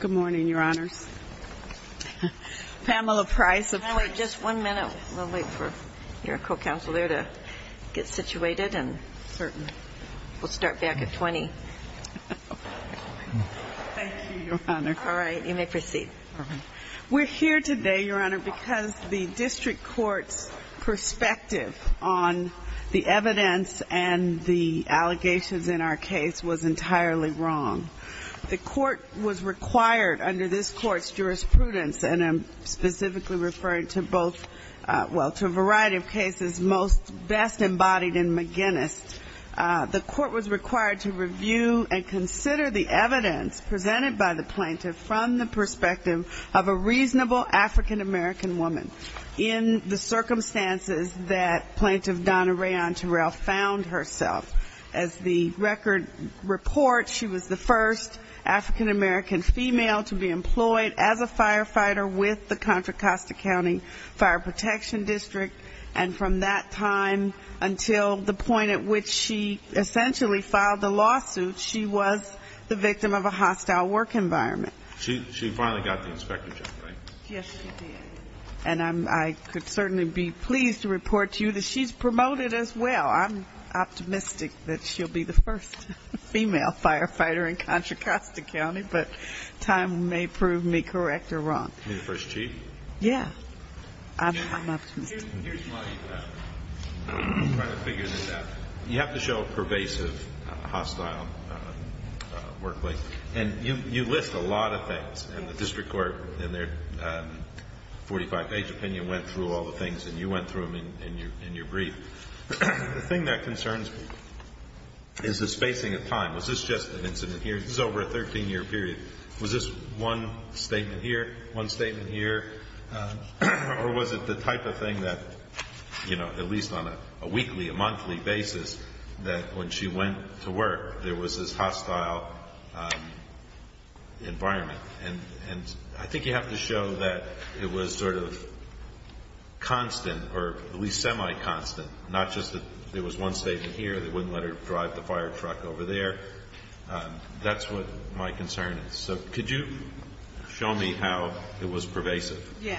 Good morning, your honors. Pamela Price. Just one minute, we'll wait for your co-counselor to get situated and we'll start back at 20. All right, you may proceed. We're here today, your honor, because the district court's perspective on the evidence and the allegations in our case was entirely wrong. The court was required under this court's jurisprudence, and I'm specifically referring to both, well, to a variety of cases, most best embodied in McGinnis, the court was required to review and consider the evidence presented by the plaintiff from the perspective of a reasonable African-American woman in the circumstances that Plaintiff Donna Rayon Terrell found herself. As the record reports, she was the first African-American female to be employed as a firefighter with the Contra Costa County Fire Protection District, and from that time until the point at which she essentially filed the lawsuit, she was the victim of a hostile work environment. She finally got the inspector job, right? Yes, she did. And I could certainly be pleased to report to you that she's promoted as well. I'm optimistic that she'll be the first female firefighter in Contra Costa County, but time may prove me correct or wrong. You mean the first chief? Yeah, I'm optimistic. Here's my, I'm trying to figure this out. You have to show a pervasive hostile workplace, and you list a lot of things, and the district court in their 45-page opinion went through all the things, and you went through them in your brief. The thing that concerns me is the spacing of time. Was this just an incident here? This is over a 13-year period. Was this one statement here, one statement here, or was it the type of thing that, you know, at least on a weekly, a monthly basis, that when she went to work, there was this hostile environment? And I think you have to show that it was sort of constant, or at least semi-constant, not just that there was one statement here, they wouldn't let her drive the fire truck over there. That's what my concern is. So could you show me how it was pervasive? My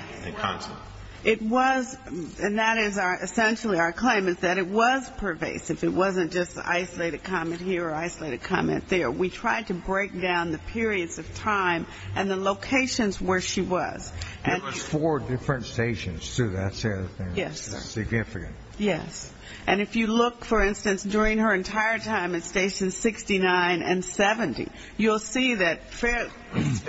claim is that it was pervasive. It wasn't just isolated comment here or isolated comment there. We tried to break down the periods of time and the locations where she was. It was four different stations, too. That's significant. Yes. And if you look, for instance, during her entire time at stations 69 and 70, you'll see that fairly,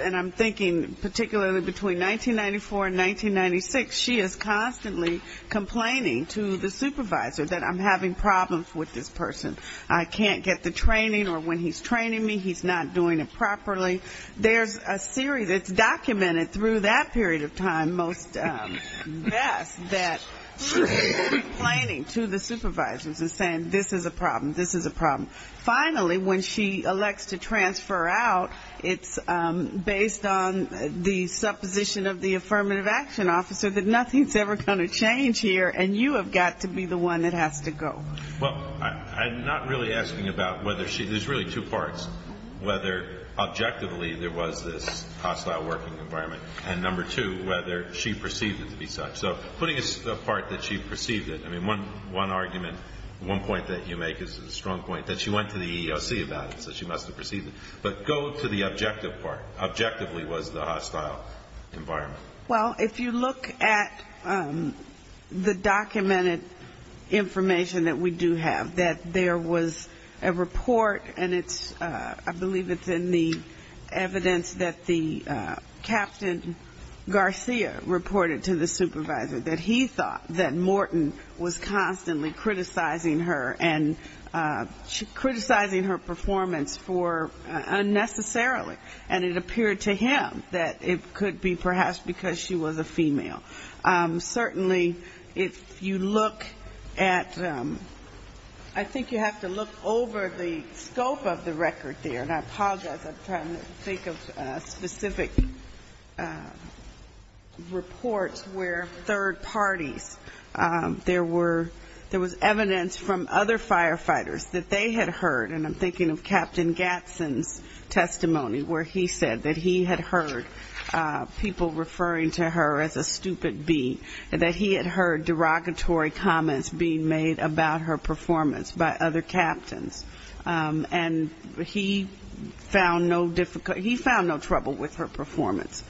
and I'm thinking particularly between 1994 and 1996, she is constantly complaining to the supervisor that I'm having problems with this person. I can't get the training, or when he's training me, he's not doing it properly. There's a series, it's documented through that period of time, most best, that she's complaining to the supervisors and saying this is a problem, this is a problem. Finally, when she elects to transfer out, it's based on the supposition of the affirmative action officer that nothing's ever going to change here, and you have got to be the one that has to go. Well, I'm not really asking about whether she, there's really two parts, whether objectively there was this hostile working environment, and number two, whether she perceived it to be such. So putting it apart that she perceived it, I mean, one argument, one point that you make is a strong point, that she went to the EEOC about it, so she must have perceived it. But go to the objective part. Objectively was the hostile environment. Well, if you look at the documented information that we do have, that there was a report, and it's, I believe it's in the evidence that the Captain Garcia reported to the supervisor, that he thought that Morton was constantly criticizing her and criticizing her performance for unnecessarily, and it appeared to him that it could be perhaps because she was a female. Certainly, if you look at, I think you have to look over the scope of the record there, and I apologize, I'm trying to think of specific reports where third parties, there was evidence from other firefighters that they had heard, and I'm thinking of Captain Gatson's testimony, where he said that he had heard people referring to her as a stupid bee, that he had heard derogatory comments being made about her performance by other captains. And he found no difficult, he found no trouble with her performance.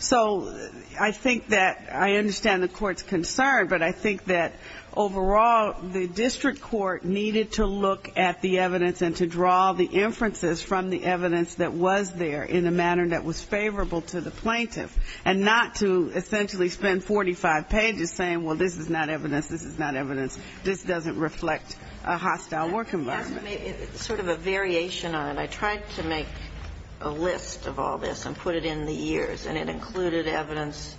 So I think that I understand the Court's concern, but I think that overall the district court needed to look at the evidence and to draw the inferences from the evidence that was there in a manner that was favorable to the plaintiff, and not to essentially spend 45 pages saying, well, this is not evidence, this is not evidence, this doesn't reflect a hostile work environment. Kagan. It's sort of a variation on it. I tried to make a list of all this and put it in the years, and it included evidence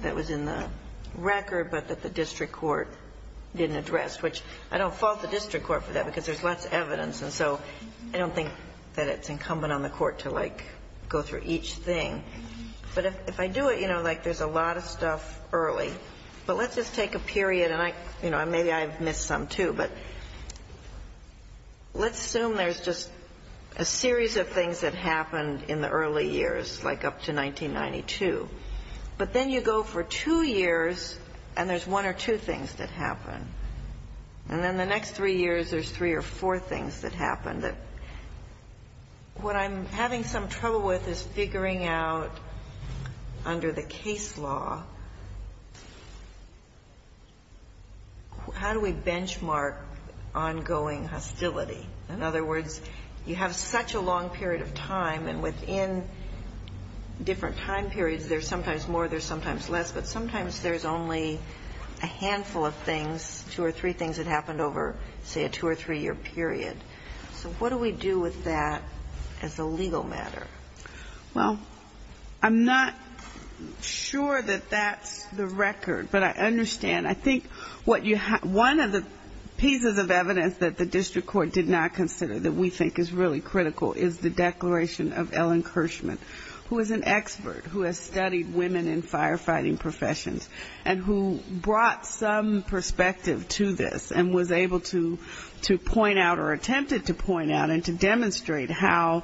that was in the record, but that the district court didn't address, which I don't fault the district court for that, because there's less evidence, and so I don't think that it's incumbent on the court to, like, go through each thing. But if I do it, you know, like, there's a lot of stuff early, but let's just take a period and I, you know, maybe I've missed some, too, but let's assume there's just a series of things that happened in the early years, like up to 1992. But then you go for two years and there's one or two things that happen. And then the next three years there's three or four things that happen that what I'm having some trouble with is figuring out, under the case law, how do we benchmark ongoing hostility? In other words, you have such a long period of time, and within different time periods there's sometimes more, there's sometimes less, but sometimes there's only a handful of things, two or three things that happened over, say, a two- or three-year period. So what do we do with that as a legal matter? Well, I'm not sure that that's the record, but I understand. I think what you have one of the pieces of evidence that the district court did not consider that we think is really critical is the declaration of Ellen Kirschman, who is an expert who has studied women in firefighting professions, and who brought some perspective to this, and was able to say that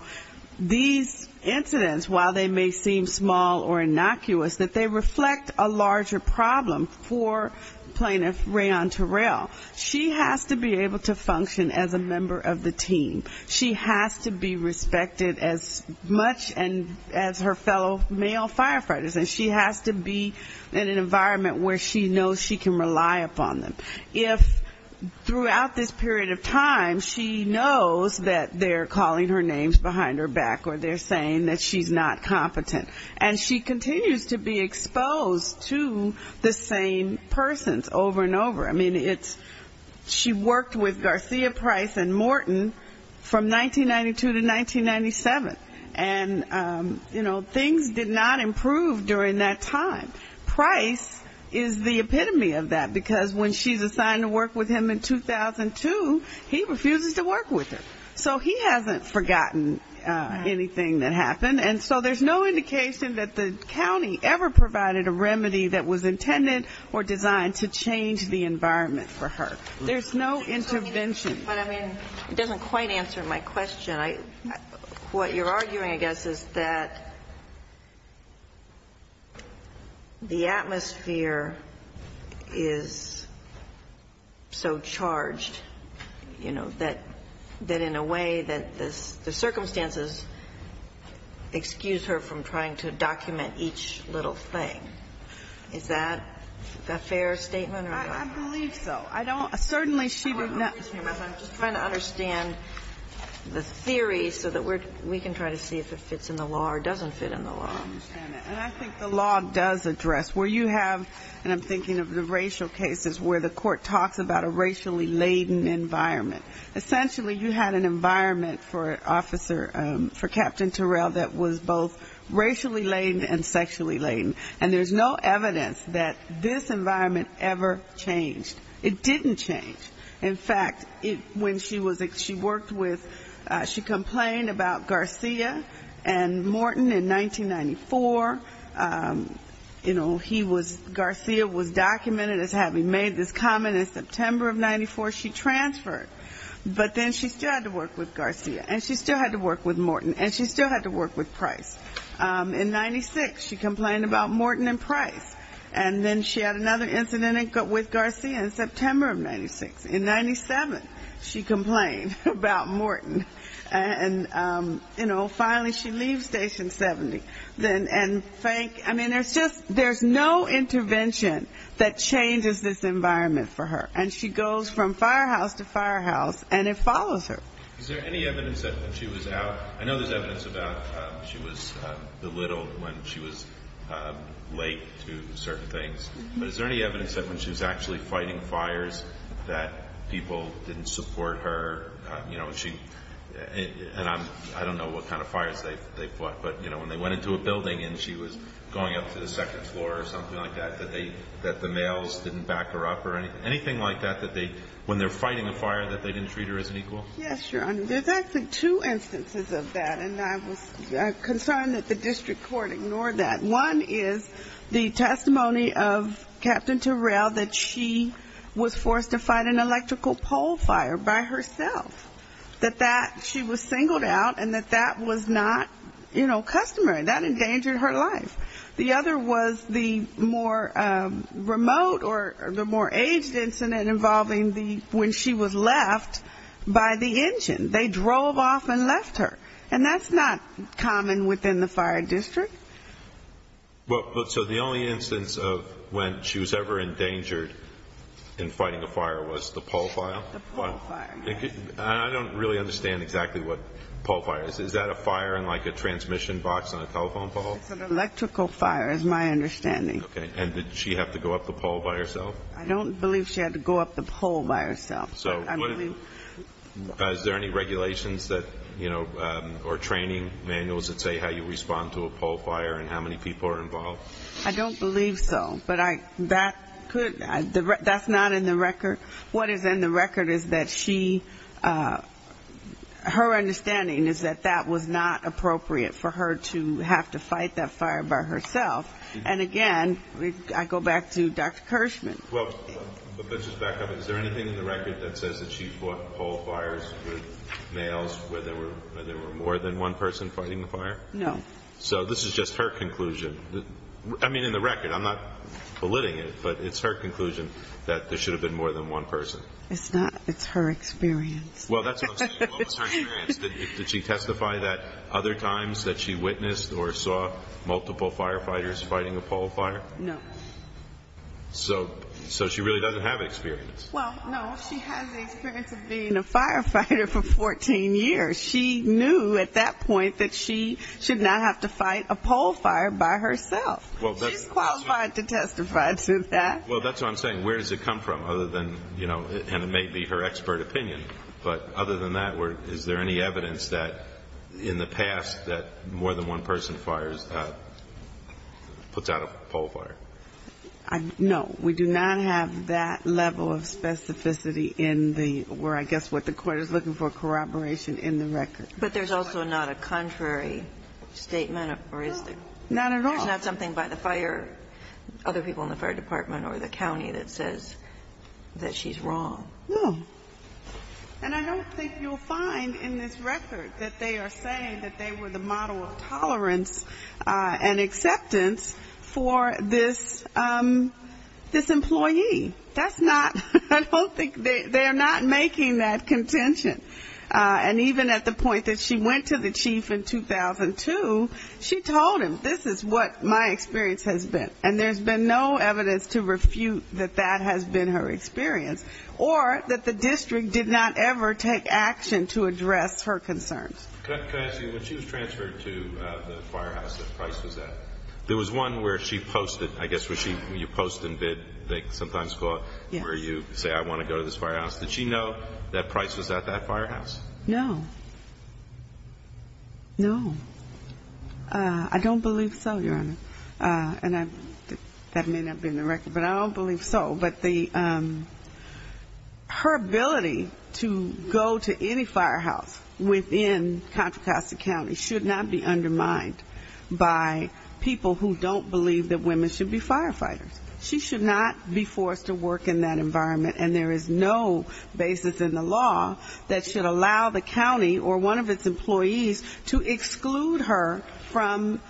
these incidents, while they may seem small or innocuous, that they reflect a larger problem for plaintiff Rayon Terrell. She has to be able to function as a member of the team. She has to be respected as much as her fellow male firefighters, and she has to be in an environment where she knows she can rely upon them. If throughout this period of time she knows that they're calling her names behind her back, or they're saying that she's not competent, and she continues to be exposed to the same persons over and over. I mean, it's she worked with Garcia Price and Morton from 1992 to 1997, and, you know, things did not improve during that time. Price is the epitome of that, because when she's assigned to work with him in 2002, he refuses to allow anything that happened. And so there's no indication that the county ever provided a remedy that was intended or designed to change the environment for her. There's no intervention. But, I mean, it doesn't quite answer my question. What you're arguing, I guess, is that the atmosphere is so charged, you know, that in a way that the circumstances excuse her from trying to document each little thing. Is that a fair statement or not? I believe so. I don't know. Certainly she did not. I'm just trying to understand the theory so that we can try to see if it fits in the law or doesn't fit in the law. I understand that. And I think the law does address where you have, and I'm thinking of the racial cases where the court talks about a racially laden environment. Essentially you had an environment for Captain Terrell that was both racially laden and sexually laden. And there's no evidence that this environment ever changed. It didn't change. In fact, when she worked with, she complained about Garcia and Morton in 1994. You know, Garcia was documented as having made this comment. In September of 1994 she transferred. But then she still had to work with Garcia, and she still had to work with Morton, and she still had to work with Price. In 1996 she complained about Morton and Price. And then she had another incident with Garcia in September of 1996. In 1997 she complained about Morton. And, you know, finally she leaves Station 70. And, I mean, there's no intervention that changes this environment for her. And she goes from firehouse to firehouse, and it follows her. Is there any evidence that when she was out, I know there's evidence about she was belittled when she was late to certain things. But is there any evidence that when she was actually fighting fires that people didn't support her? You know, she, and I'm, I don't know what kind of fires they fought, but, you know, when they went into a building and she was going up to the second floor or something like that, that they, that the males didn't back her up or anything like that, that they, when they're fighting a fire, that they didn't treat her as an equal? Yes, Your Honor. There's actually two instances of that, and I was concerned that the district court ignored that. One is the testimony of Captain Turrell that she was forced to fight an electrical pole fire by herself. That that, she was singled out, and that that was not, you know, customary. That endangered her life. The other was the more remote or the more aged incident involving the, when she was left by the engine. They drove off and left her. And that's not common within the fire district. Well, so the only instance of when she was ever endangered in fighting a fire was the pole fire? The pole fire. I don't really understand exactly what pole fire is. Is that a fire in, like, a transmission box on a telephone pole? It's an electrical fire is my understanding. Okay. And did she have to go up the pole by herself? I don't believe she had to go up the pole by herself. Is there any regulations that, you know, or training manuals that say how you respond to a pole fire and how many people are involved? I don't believe so. But I, that could, that's not in the record. What is in the record is that she, her understanding is that that was not appropriate for her to have to fight that fire by herself. And again, I go back to Dr. Kirschman. Well, but just back up. Is there anything in the record that says that she fought pole fires with males where there were more than one person fighting the fire? No. So this is just her conclusion. I mean, in the record. I'm not belittling it, but it's her conclusion that there should have been more than one person. It's not. It's her experience. Well, that's what I'm saying. What was her experience? Did she testify that other times that she witnessed or saw multiple firefighters fighting a pole fire? No. So she really doesn't have experience. Well, no, she has the experience of being a firefighter for 14 years. She knew at that point that she should not have to fight a pole fire by herself. She's qualified to testify to that. Well, that's what I'm saying. Where does it come from? Other than, you know, and it may be her expert opinion. But other than that, is there any evidence that in the past that more than one person fires, puts out a pole fire? No. We do not have that level of specificity in the, where I guess what the Court is looking for, corroboration in the record. But there's also not a contrary statement or is there? No, not at all. There's not something by the fire, other people in the fire department or the county that says that she's wrong. No. And I don't think you'll find in this record that they are saying that they were the model of tolerance and acceptance for this employee. That's not, I don't think, they're not making that contention. And even at the point that she went to the chief in 2002, she told him, this is what my experience has been. And there's been no evidence to refute that that has been her experience. Or that the district did not ever take action to address her concerns. Could I ask you, when she was transferred to the firehouse that Price was at, there was one where she posted, I guess where you post and bid, they sometimes call it, where you say, I want to go to this firehouse. Did she know that Price was at that firehouse? No. No. I don't believe so, Your Honor. And that may not be in the record, but I don't believe so. But her ability to go to any firehouse within Contra Costa County should not be undermined by people who don't believe that women should be firefighters. She should not be forced to work in that environment. And there is no basis in the law that should allow the county or one of its employees to exclude her from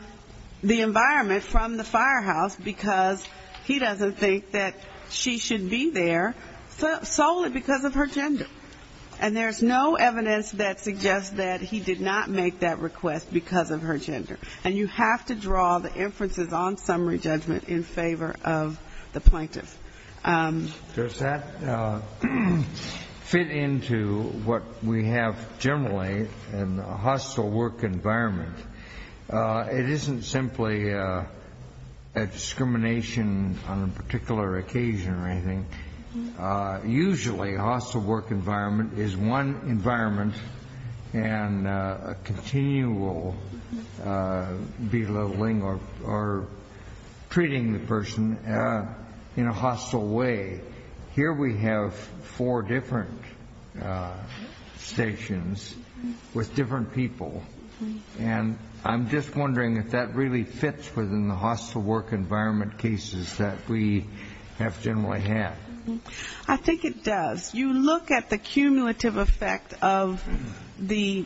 the environment from the firehouse, because he doesn't think that she should be there solely because of her gender. And there's no evidence that suggests that he did not make that request because of her gender. And you have to draw the inferences on summary judgment in favor of the plaintiff. Does that fit into what we have generally in a hostile work environment? It isn't simply a discrimination on a particular occasion or anything. Usually, a hostile work environment is one environment and a continual environment of belittling or treating the person in a hostile way. Here we have four different stations with different people. And I'm just wondering if that really fits within the hostile work environment cases that we have generally had. I think it does. You look at the cumulative effect of the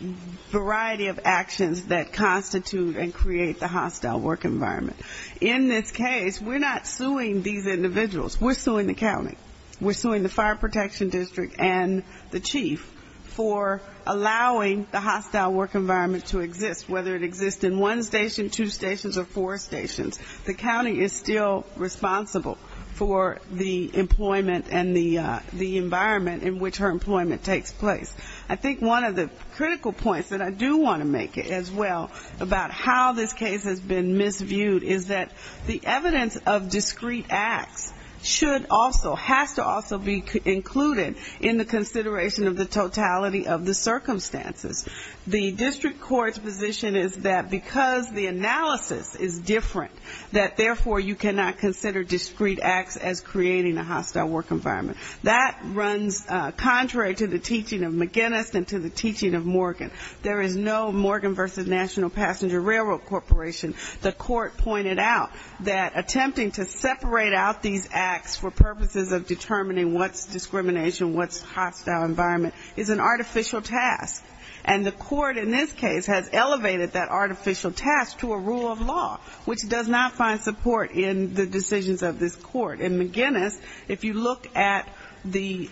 variety of actions that constitute a hostile work environment. In this case, we're not suing these individuals. We're suing the county. We're suing the fire protection district and the chief for allowing the hostile work environment to exist, whether it exists in one station, two stations or four stations. The county is still responsible for the employment and the environment in which her employment takes place. I think one of the critical points that I do want to make as well about how this case has been misviewed is that the evidence of discrete acts should also, has to also be included in the consideration of the totality of the circumstances. The district court's position is that because the analysis is different, that therefore you cannot consider discrete acts as creating a hostile work environment. That runs contrary to the teaching of McGinnis and to the teaching of Morgan. There is no Morgan versus National Passenger Railroad Corporation. The court pointed out that attempting to separate out these acts for purposes of determining what's discrimination, what's hostile environment, is an artificial task. And the court in this case has elevated that artificial task to a rule of law, which does not find support in the decisions of this court. And McGinnis, if you look at the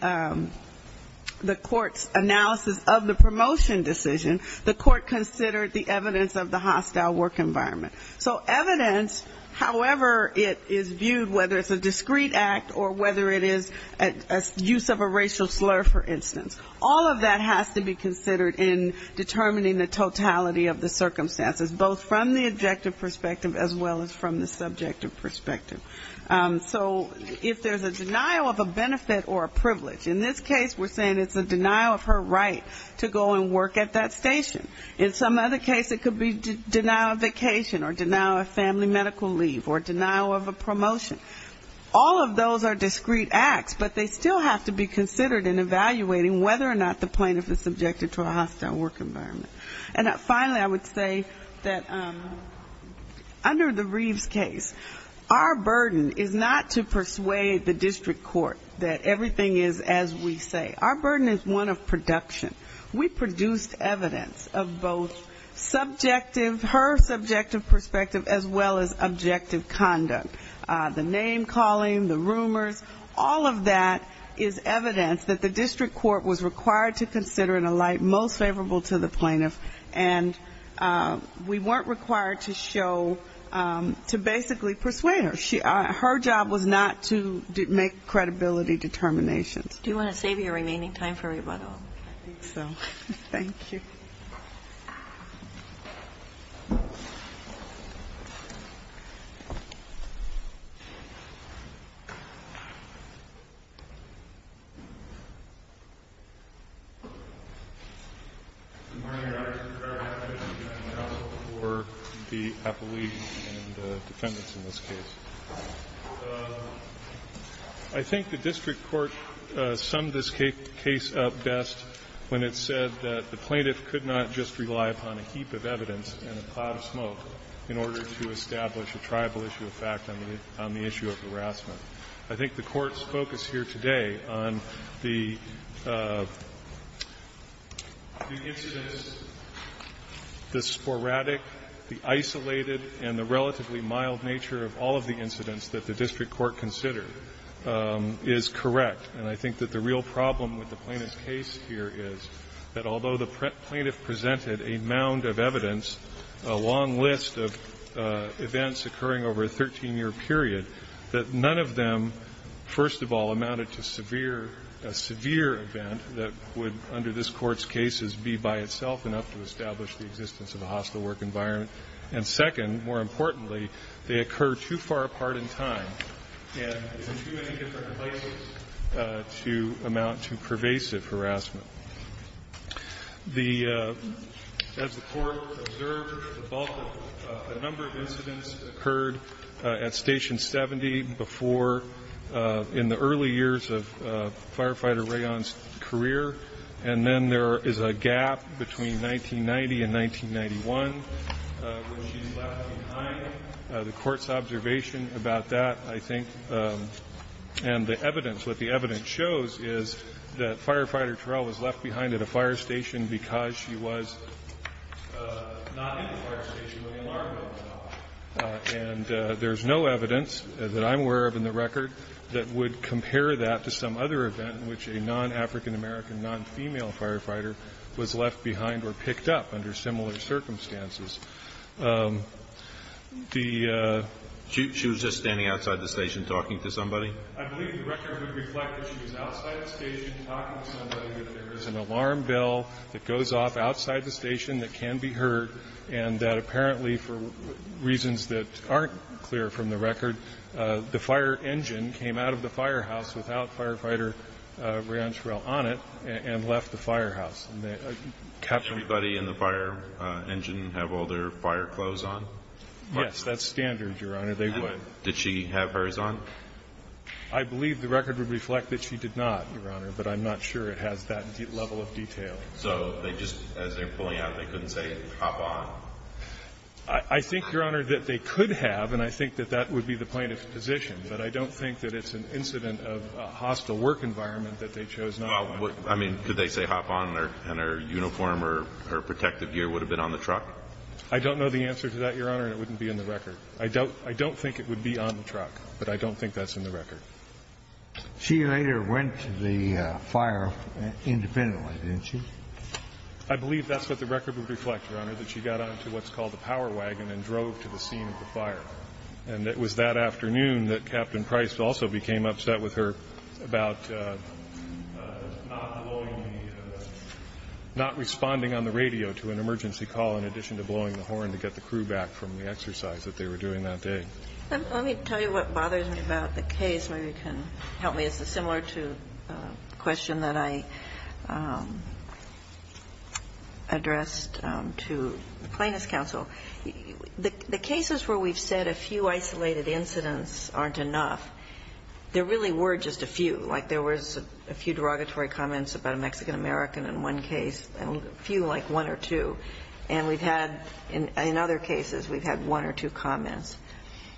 court's analysis of the promotion decision, the court considered the evidence of the hostile work environment. So evidence, however it is viewed, whether it's a discrete act or whether it is use of a racial slur, for instance, all of that has to be considered in determining the totality of the circumstances, both from the objective perspective as well as from the subjective perspective. So if there's a denial of a benefit or a privilege, in this case we're saying it's a denial of her right to go and work at that station. In some other case it could be denial of vacation or denial of family medical leave or denial of a promotion. All of those are discrete acts, but they still have to be considered in evaluating whether or not the plaintiff is in favor of that. Under the Reeves case, our burden is not to persuade the district court that everything is as we say. Our burden is one of production. We produced evidence of both subjective, her subjective perspective, as well as objective conduct. The name-calling, the rumors, all of that is evidence that the district court was required to show to basically persuade her. Her job was not to make credibility determinations. Do you want to save your remaining time for rebuttal? I think so. Thank you. I think the district court summed this case up best when it said that the plaintiff could not just rely upon a heap of evidence and a cloud of smoke in order to establish a tribal issue of fact on the issue of harassment. I think the Court's focus here today on the incidents, the sporadic, the isolated, and the relatively mild nature of all of the incidents that the district court considered is correct. And I think that the real problem with the plaintiff's case here is that although the plaintiff presented a mound of evidence, a long list of events occurring over a 13-year period, that none of them, first of all, amounted to severe event that would, under this Court's cases, be by itself enough to establish the existence of a hostile work environment. And second, more importantly, they occur too far apart in time and in too many different places to amount to pervasive harassment. As the Court observed, a number of incidents occurred at Station 70 before, in the early years of Firefighter Rayon's career, and then there is a gap between 1990 and 1991 when she's left behind. The Court's observation about that, I think, and the evidence, what the evidence shows is that Firefighter Terrell was left behind at a fire station because she was not in the fire station when the alarm went off. And there's no evidence that I'm aware of that to some other event in which a non-African American, non-female firefighter was left behind or picked up under similar circumstances. The ---- Kennedy, she was just standing outside the station talking to somebody? I believe the record would reflect that she was outside the station talking to somebody, that there is an alarm bell that goes off outside the station that can be heard, and that apparently, for reasons that aren't clear from the record, the fire engine came out of the firehouse without Firefighter Rayon Terrell on it and left the firehouse. And the captain ---- Did everybody in the fire engine have all their fire clothes on? Yes. That's standard, Your Honor. They would. Did she have hers on? I believe the record would reflect that she did not, Your Honor, but I'm not sure it has that level of detail. So they just, as they're pulling out, they couldn't say, hop on? I think, Your Honor, that they could have, and I think that that would be the plaintiff's position, but I don't think that it's an incident of a hostile work environment that they chose not to. I mean, could they say, hop on, and her uniform or her protective gear would have been on the truck? I don't know the answer to that, Your Honor, and it wouldn't be in the record. I don't think it would be on the truck, but I don't think that's in the record. She later went to the fire independently, didn't she? I believe that's what the record would reflect, Your Honor, that she got onto what's also became upset with her about not blowing the, not responding on the radio to an emergency call in addition to blowing the horn to get the crew back from the exercise that they were doing that day. Let me tell you what bothers me about the case. Maybe you can help me. It's similar to a question that I addressed to the Plaintiff's Counsel. The cases where we've said a few isolated incidents aren't enough, there really were just a few. Like, there was a few derogatory comments about a Mexican-American in one case, a few like one or two. And we've had, in other cases, we've had one or two comments.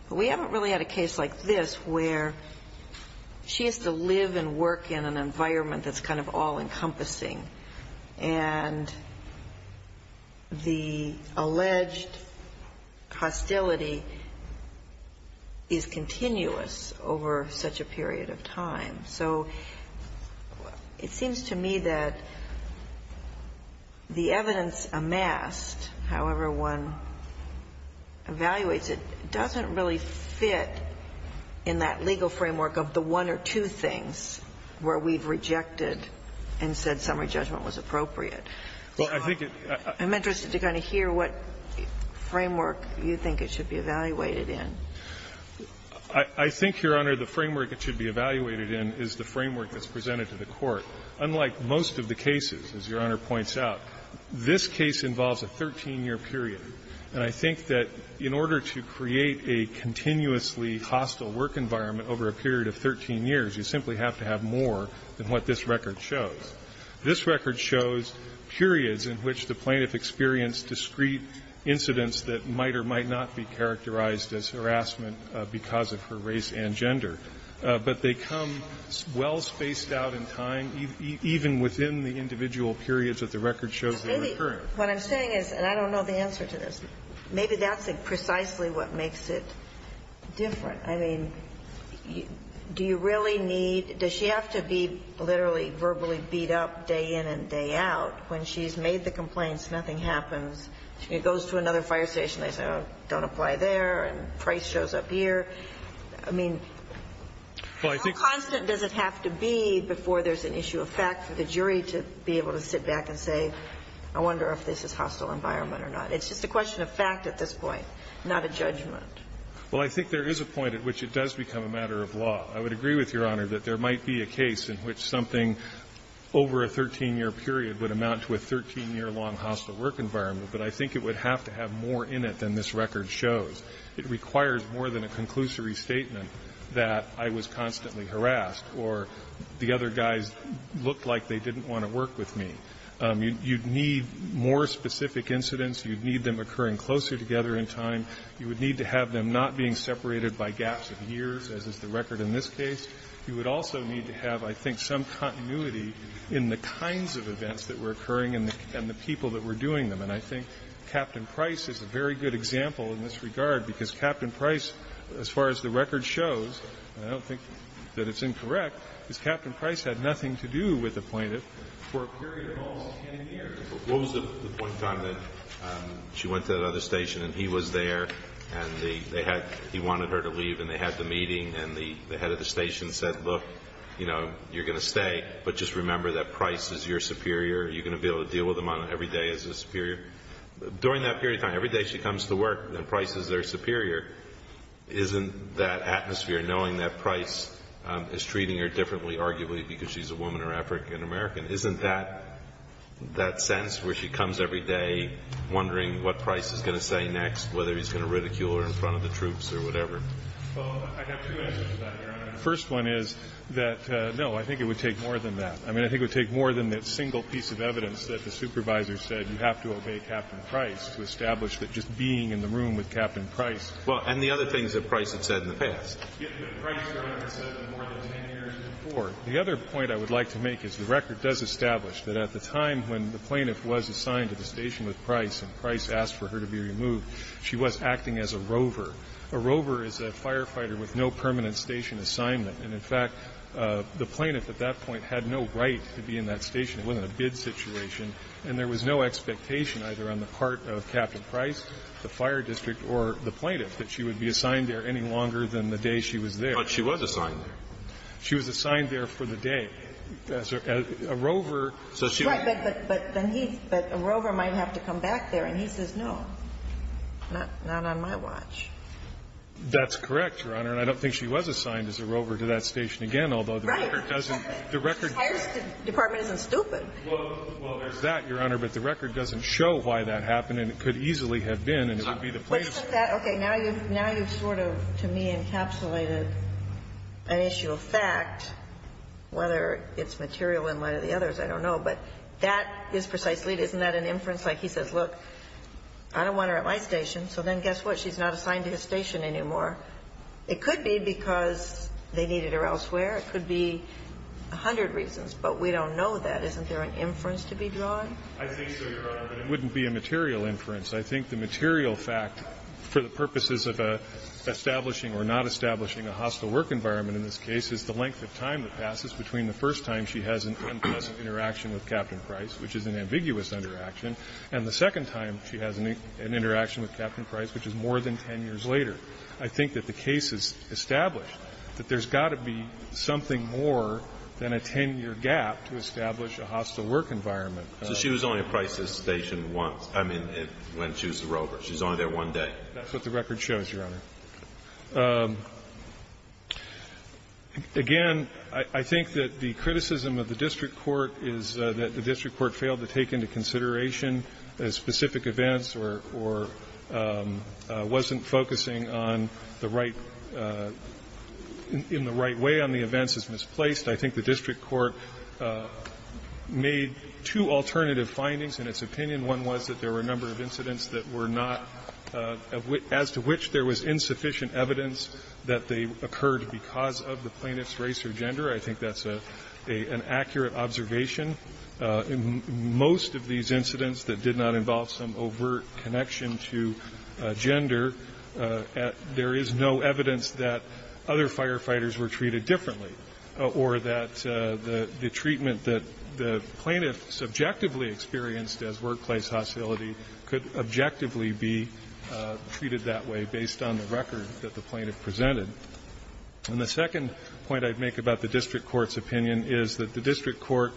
But we haven't really had a case like this where she has to live and work in an environment that's kind of all-encompassing. And the alleged hostility is continuous over such a period of time. So it seems to me that the evidence amassed, however one evaluates it, doesn't really fit in that legal framework of the one or two things where we've rejected and said that summary judgment was appropriate. I'm interested to kind of hear what framework you think it should be evaluated I think, Your Honor, the framework it should be evaluated in is the framework that's presented to the Court. Unlike most of the cases, as Your Honor points out, this case involves a 13-year period. And I think that in order to create a continuously hostile work environment over a period of 13 years, you simply have to have more than what this record shows. This record shows periods in which the plaintiff experienced discrete incidents that might or might not be characterized as harassment because of her race and gender. But they come well-spaced out in time, even within the individual periods that the record shows they were occurring. What I'm saying is, and I don't know the answer to this, maybe that's precisely what makes it different. I mean, do you really need, does she have to be literally verbally beat up day in and day out when she's made the complaints, nothing happens, she goes to another fire station, they say, oh, don't apply there, and Price shows up here? I mean, how constant does it have to be before there's an issue of fact for the jury to be able to sit back and say, I wonder if this is hostile environment or not? It's just a question of fact at this point, not a judgment. Well, I think there is a point at which it does become a matter of law. I would agree with Your Honor that there might be a case in which something over a 13-year period would amount to a 13-year-long hostile work environment, but I think it would have to have more in it than this record shows. It requires more than a conclusory statement that I was constantly harassed or the other guys looked like they didn't want to work with me. You'd need more specific incidents. You'd need them occurring closer together in time. You would need to have them not being separated by gaps of years, as is the record in this case. You would also need to have, I think, some continuity in the kinds of events that were occurring and the people that were doing them. And I think Captain Price is a very good example in this regard, because Captain Price, as far as the record shows, and I don't think that it's incorrect, is Captain Price had nothing to do with the plaintiff for a period of almost 10 years. What was the point in time that she went to that other station and he was there and he wanted her to leave and they had the meeting and the head of the station said, look, you're going to stay, but just remember that Price is your superior. You're going to be able to deal with him every day as his superior. During that period of time, every day she comes to work and Price is their superior, isn't that atmosphere, knowing that Price is treating her differently, arguably because she's a woman or African-American, isn't that sense where she comes every day wondering what Price is going to say next, whether he's going to ridicule her in front of the troops or whatever? Well, I have two answers to that, Your Honor. The first one is that, no, I think it would take more than that. I mean, I think it would take more than that single piece of evidence that the supervisor said you have to obey Captain Price to establish that just being in the room with Captain Price. Well, and the other things that Price had said in the past. The other point I would like to make is the record does establish that at the time when the plaintiff was assigned to the station with Price and Price asked for her to be removed, she was acting as a rover. A rover is a firefighter with no permanent station assignment. And, in fact, the plaintiff at that point had no right to be in that station. It wasn't a bid situation, and there was no expectation either on the part of Captain Price, the fire district, or the plaintiff that she would be assigned there any longer than the day she was there. But she was assigned there. She was assigned there for the day. A rover. But a rover might have to come back there. And he says, no, not on my watch. That's correct, Your Honor. And I don't think she was assigned as a rover to that station again, although the record doesn't. The fire department isn't stupid. Well, there's that, Your Honor. But the record doesn't show why that happened, and it could easily have been, and it would be the plaintiff's. Okay. Now you've sort of, to me, encapsulated an issue of fact, whether it's material in light of the others. I don't know. But that is precisely it. Isn't that an inference? Like, he says, look, I don't want her at my station, so then guess what? She's not assigned to his station anymore. It could be because they needed her elsewhere. It could be a hundred reasons, but we don't know that. Isn't there an inference to be drawn? I think so, Your Honor, but it wouldn't be a material inference. I think the material fact for the purposes of establishing or not establishing a hostile work environment in this case is the length of time that passes between the first time she has an unpleasant interaction with Captain Price, which is an ambiguous interaction, and the second time she has an interaction with Captain Price, which is more than ten years later. I think that the case is established that there's got to be something more than a ten-year gap to establish a hostile work environment. So she was only at Price's station once. I mean, when she was at Roper's. She was only there one day. That's what the record shows, Your Honor. Again, I think that the criticism of the district court is that the district court failed to take into consideration specific events or wasn't focusing on the right – in the right way on the events as misplaced. I think the district court made two alternative findings in its opinion. One was that there were a number of incidents that were not – as to which there was insufficient evidence that they occurred because of the plaintiff's race or gender. I think that's an accurate observation. In most of these incidents that did not involve some overt connection to gender, there is no evidence that other firefighters were treated differently or that the objectively be treated that way based on the record that the plaintiff presented. And the second point I'd make about the district court's opinion is that the district court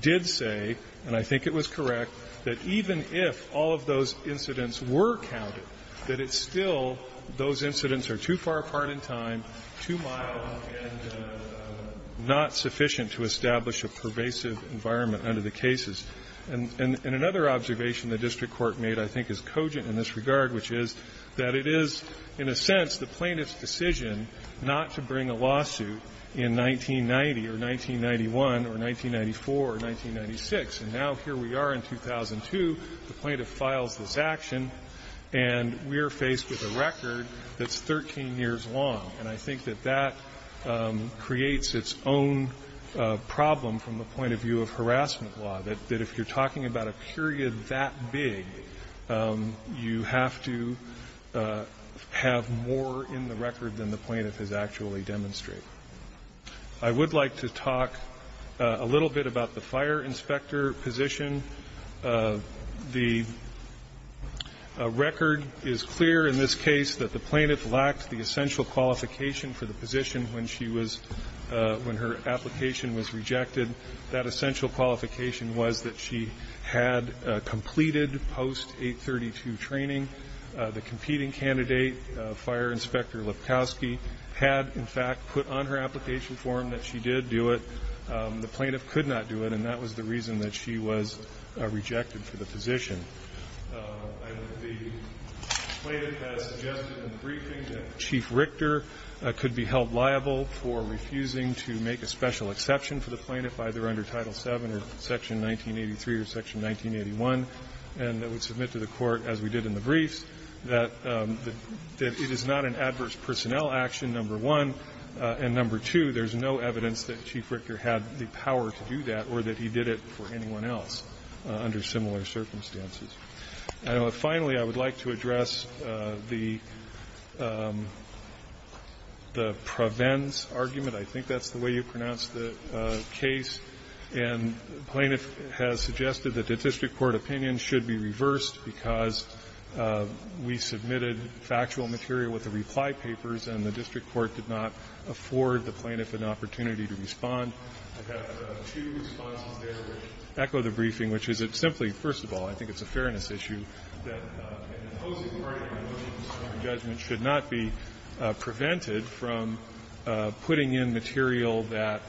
did say, and I think it was correct, that even if all of those incidents were counted, that it's still those incidents are too far apart in time, too mild, and not sufficient to establish a pervasive environment under the cases. And another observation the district court made I think is cogent in this regard, which is that it is, in a sense, the plaintiff's decision not to bring a lawsuit in 1990 or 1991 or 1994 or 1996. And now here we are in 2002. The plaintiff files this action, and we're faced with a record that's 13 years long. And I think that that creates its own problem from the point of view of harassment law, that if you're talking about a period that big, you have to have more in the record than the plaintiff has actually demonstrated. I would like to talk a little bit about the fire inspector position. The record is clear in this case that the plaintiff lacked the essential qualification for the position when her application was rejected. That essential qualification was that she had completed post-832 training. The competing candidate, Fire Inspector Lipkowski, had in fact put on her application form that she did do it. The plaintiff could not do it, and that was the reason that she was rejected for the position. The plaintiff has suggested in the briefing that Chief Richter could be held liable for refusing to make a special exception for the plaintiff, either under Title VII or Section 1983 or Section 1981, and that would submit to the Court, as we did in the briefs, that it is not an adverse personnel action, number one. And number two, there's no evidence that Chief Richter had the power to do that or that he did it for anyone else under similar circumstances. Finally, I would like to address the prevents argument. I think that's the way you pronounce the case. And the plaintiff has suggested that the district court opinion should be reversed because we submitted factual material with the reply papers and the district I've got two responses there that echo the briefing, which is it's simply, first of all, I think it's a fairness issue that an imposing part of your motion in this Court of Judgment should not be prevented from putting in material that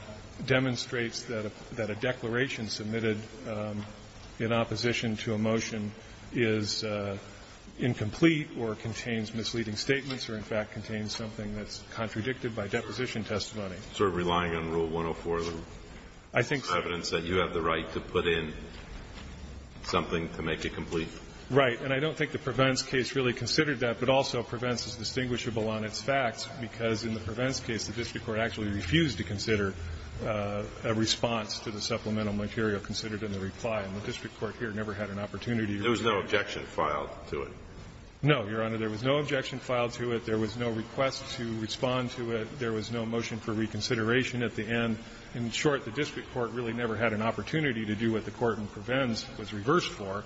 demonstrates that a declaration submitted in opposition to a motion is incomplete or contains misleading statements or in fact contains something that's contradicted by deposition testimony. It's sort of relying on Rule 104, the evidence that you have the right to put in something to make it complete. Right. And I don't think the prevents case really considered that, but also prevents is distinguishable on its facts, because in the prevents case the district court actually refused to consider a response to the supplemental material considered in the reply. And the district court here never had an opportunity to do that. There was no objection filed to it. No, Your Honor. There was no objection filed to it. There was no request to respond to it. There was no motion for reconsideration at the end. In short, the district court really never had an opportunity to do what the court in prevents was reversed for,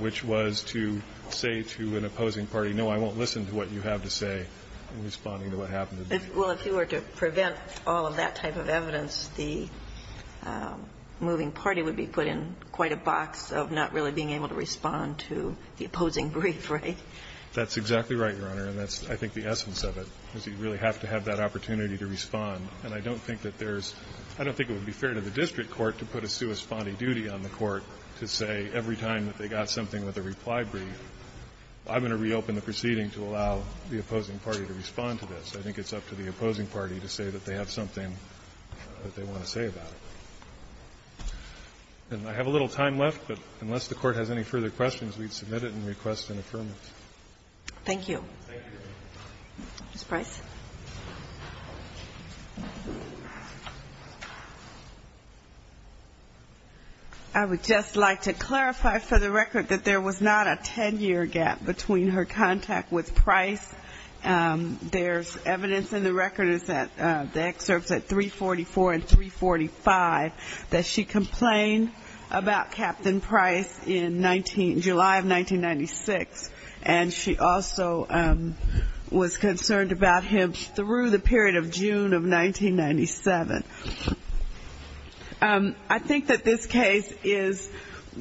which was to say to an opposing party, no, I won't listen to what you have to say in responding to what happened. Well, if you were to prevent all of that type of evidence, the moving party would be put in quite a box of not really being able to respond to the opposing brief, right? That's exactly right, Your Honor. And that's, I think, the essence of it, is you really have to have that opportunity to respond. And I don't think that there's – I don't think it would be fair to the district court to put a sua sponte duty on the court to say every time that they got something with a reply brief, I'm going to reopen the proceeding to allow the opposing party to respond to this. I think it's up to the opposing party to say that they have something that they want to say about it. And I have a little time left, but unless the Court has any further questions, we'd submit it and request an affirmation. Thank you. Ms. Price. I would just like to clarify for the record that there was not a 10-year gap between her contact with Price. There's evidence in the record that the excerpts at 344 and 345 that she complained about Captain Price in July of 1996. And she also was concerned about him through the period of June of 1997. I think that this case is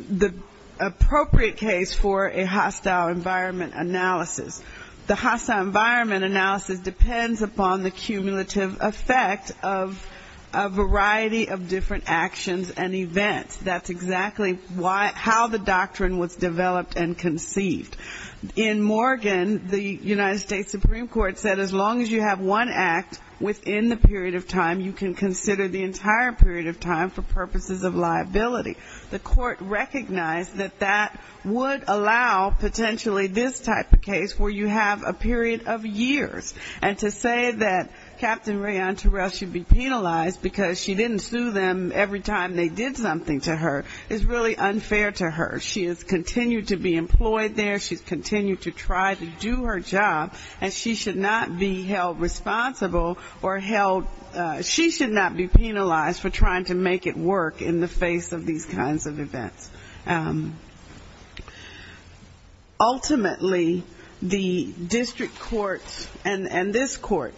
the appropriate case for a hostile environment analysis. The hostile environment analysis depends upon the cumulative effect of a variety of different actions and events. That's exactly how the doctrine was developed and conceived. In Morgan, the United States Supreme Court said as long as you have one act within the period of time, you can consider the entire period of time for purposes of liability. The court recognized that that would allow potentially this type of case, where you have a period of years. And to say that Captain Rayann Terrell should be penalized because she didn't sue them every time they did something to her is really unfair to her. She has continued to be employed there, she's continued to try to do her job, and she should not be held responsible or held she should not be penalized for trying to make it work in the face of these kinds of events. Ultimately, the district courts and this court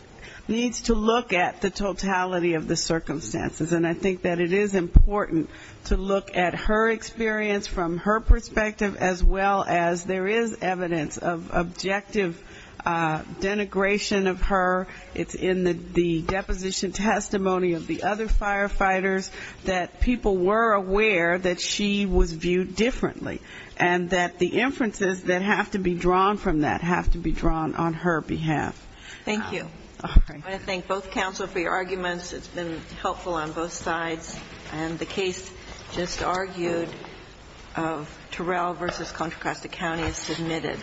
needs to look at the totality of the circumstances. And I think that it is important to look at her experience from her perspective, as well as there is evidence of objective denigration of her. It's in the deposition testimony of the other firefighters that people were aware that she was viewed differently, and that the inferences that have to be drawn from that have to be drawn on her behalf. Thank you. I want to thank both counsel for your arguments. It's been helpful on both sides. And the case just argued of Terrell v. Contra Costa County is submitted.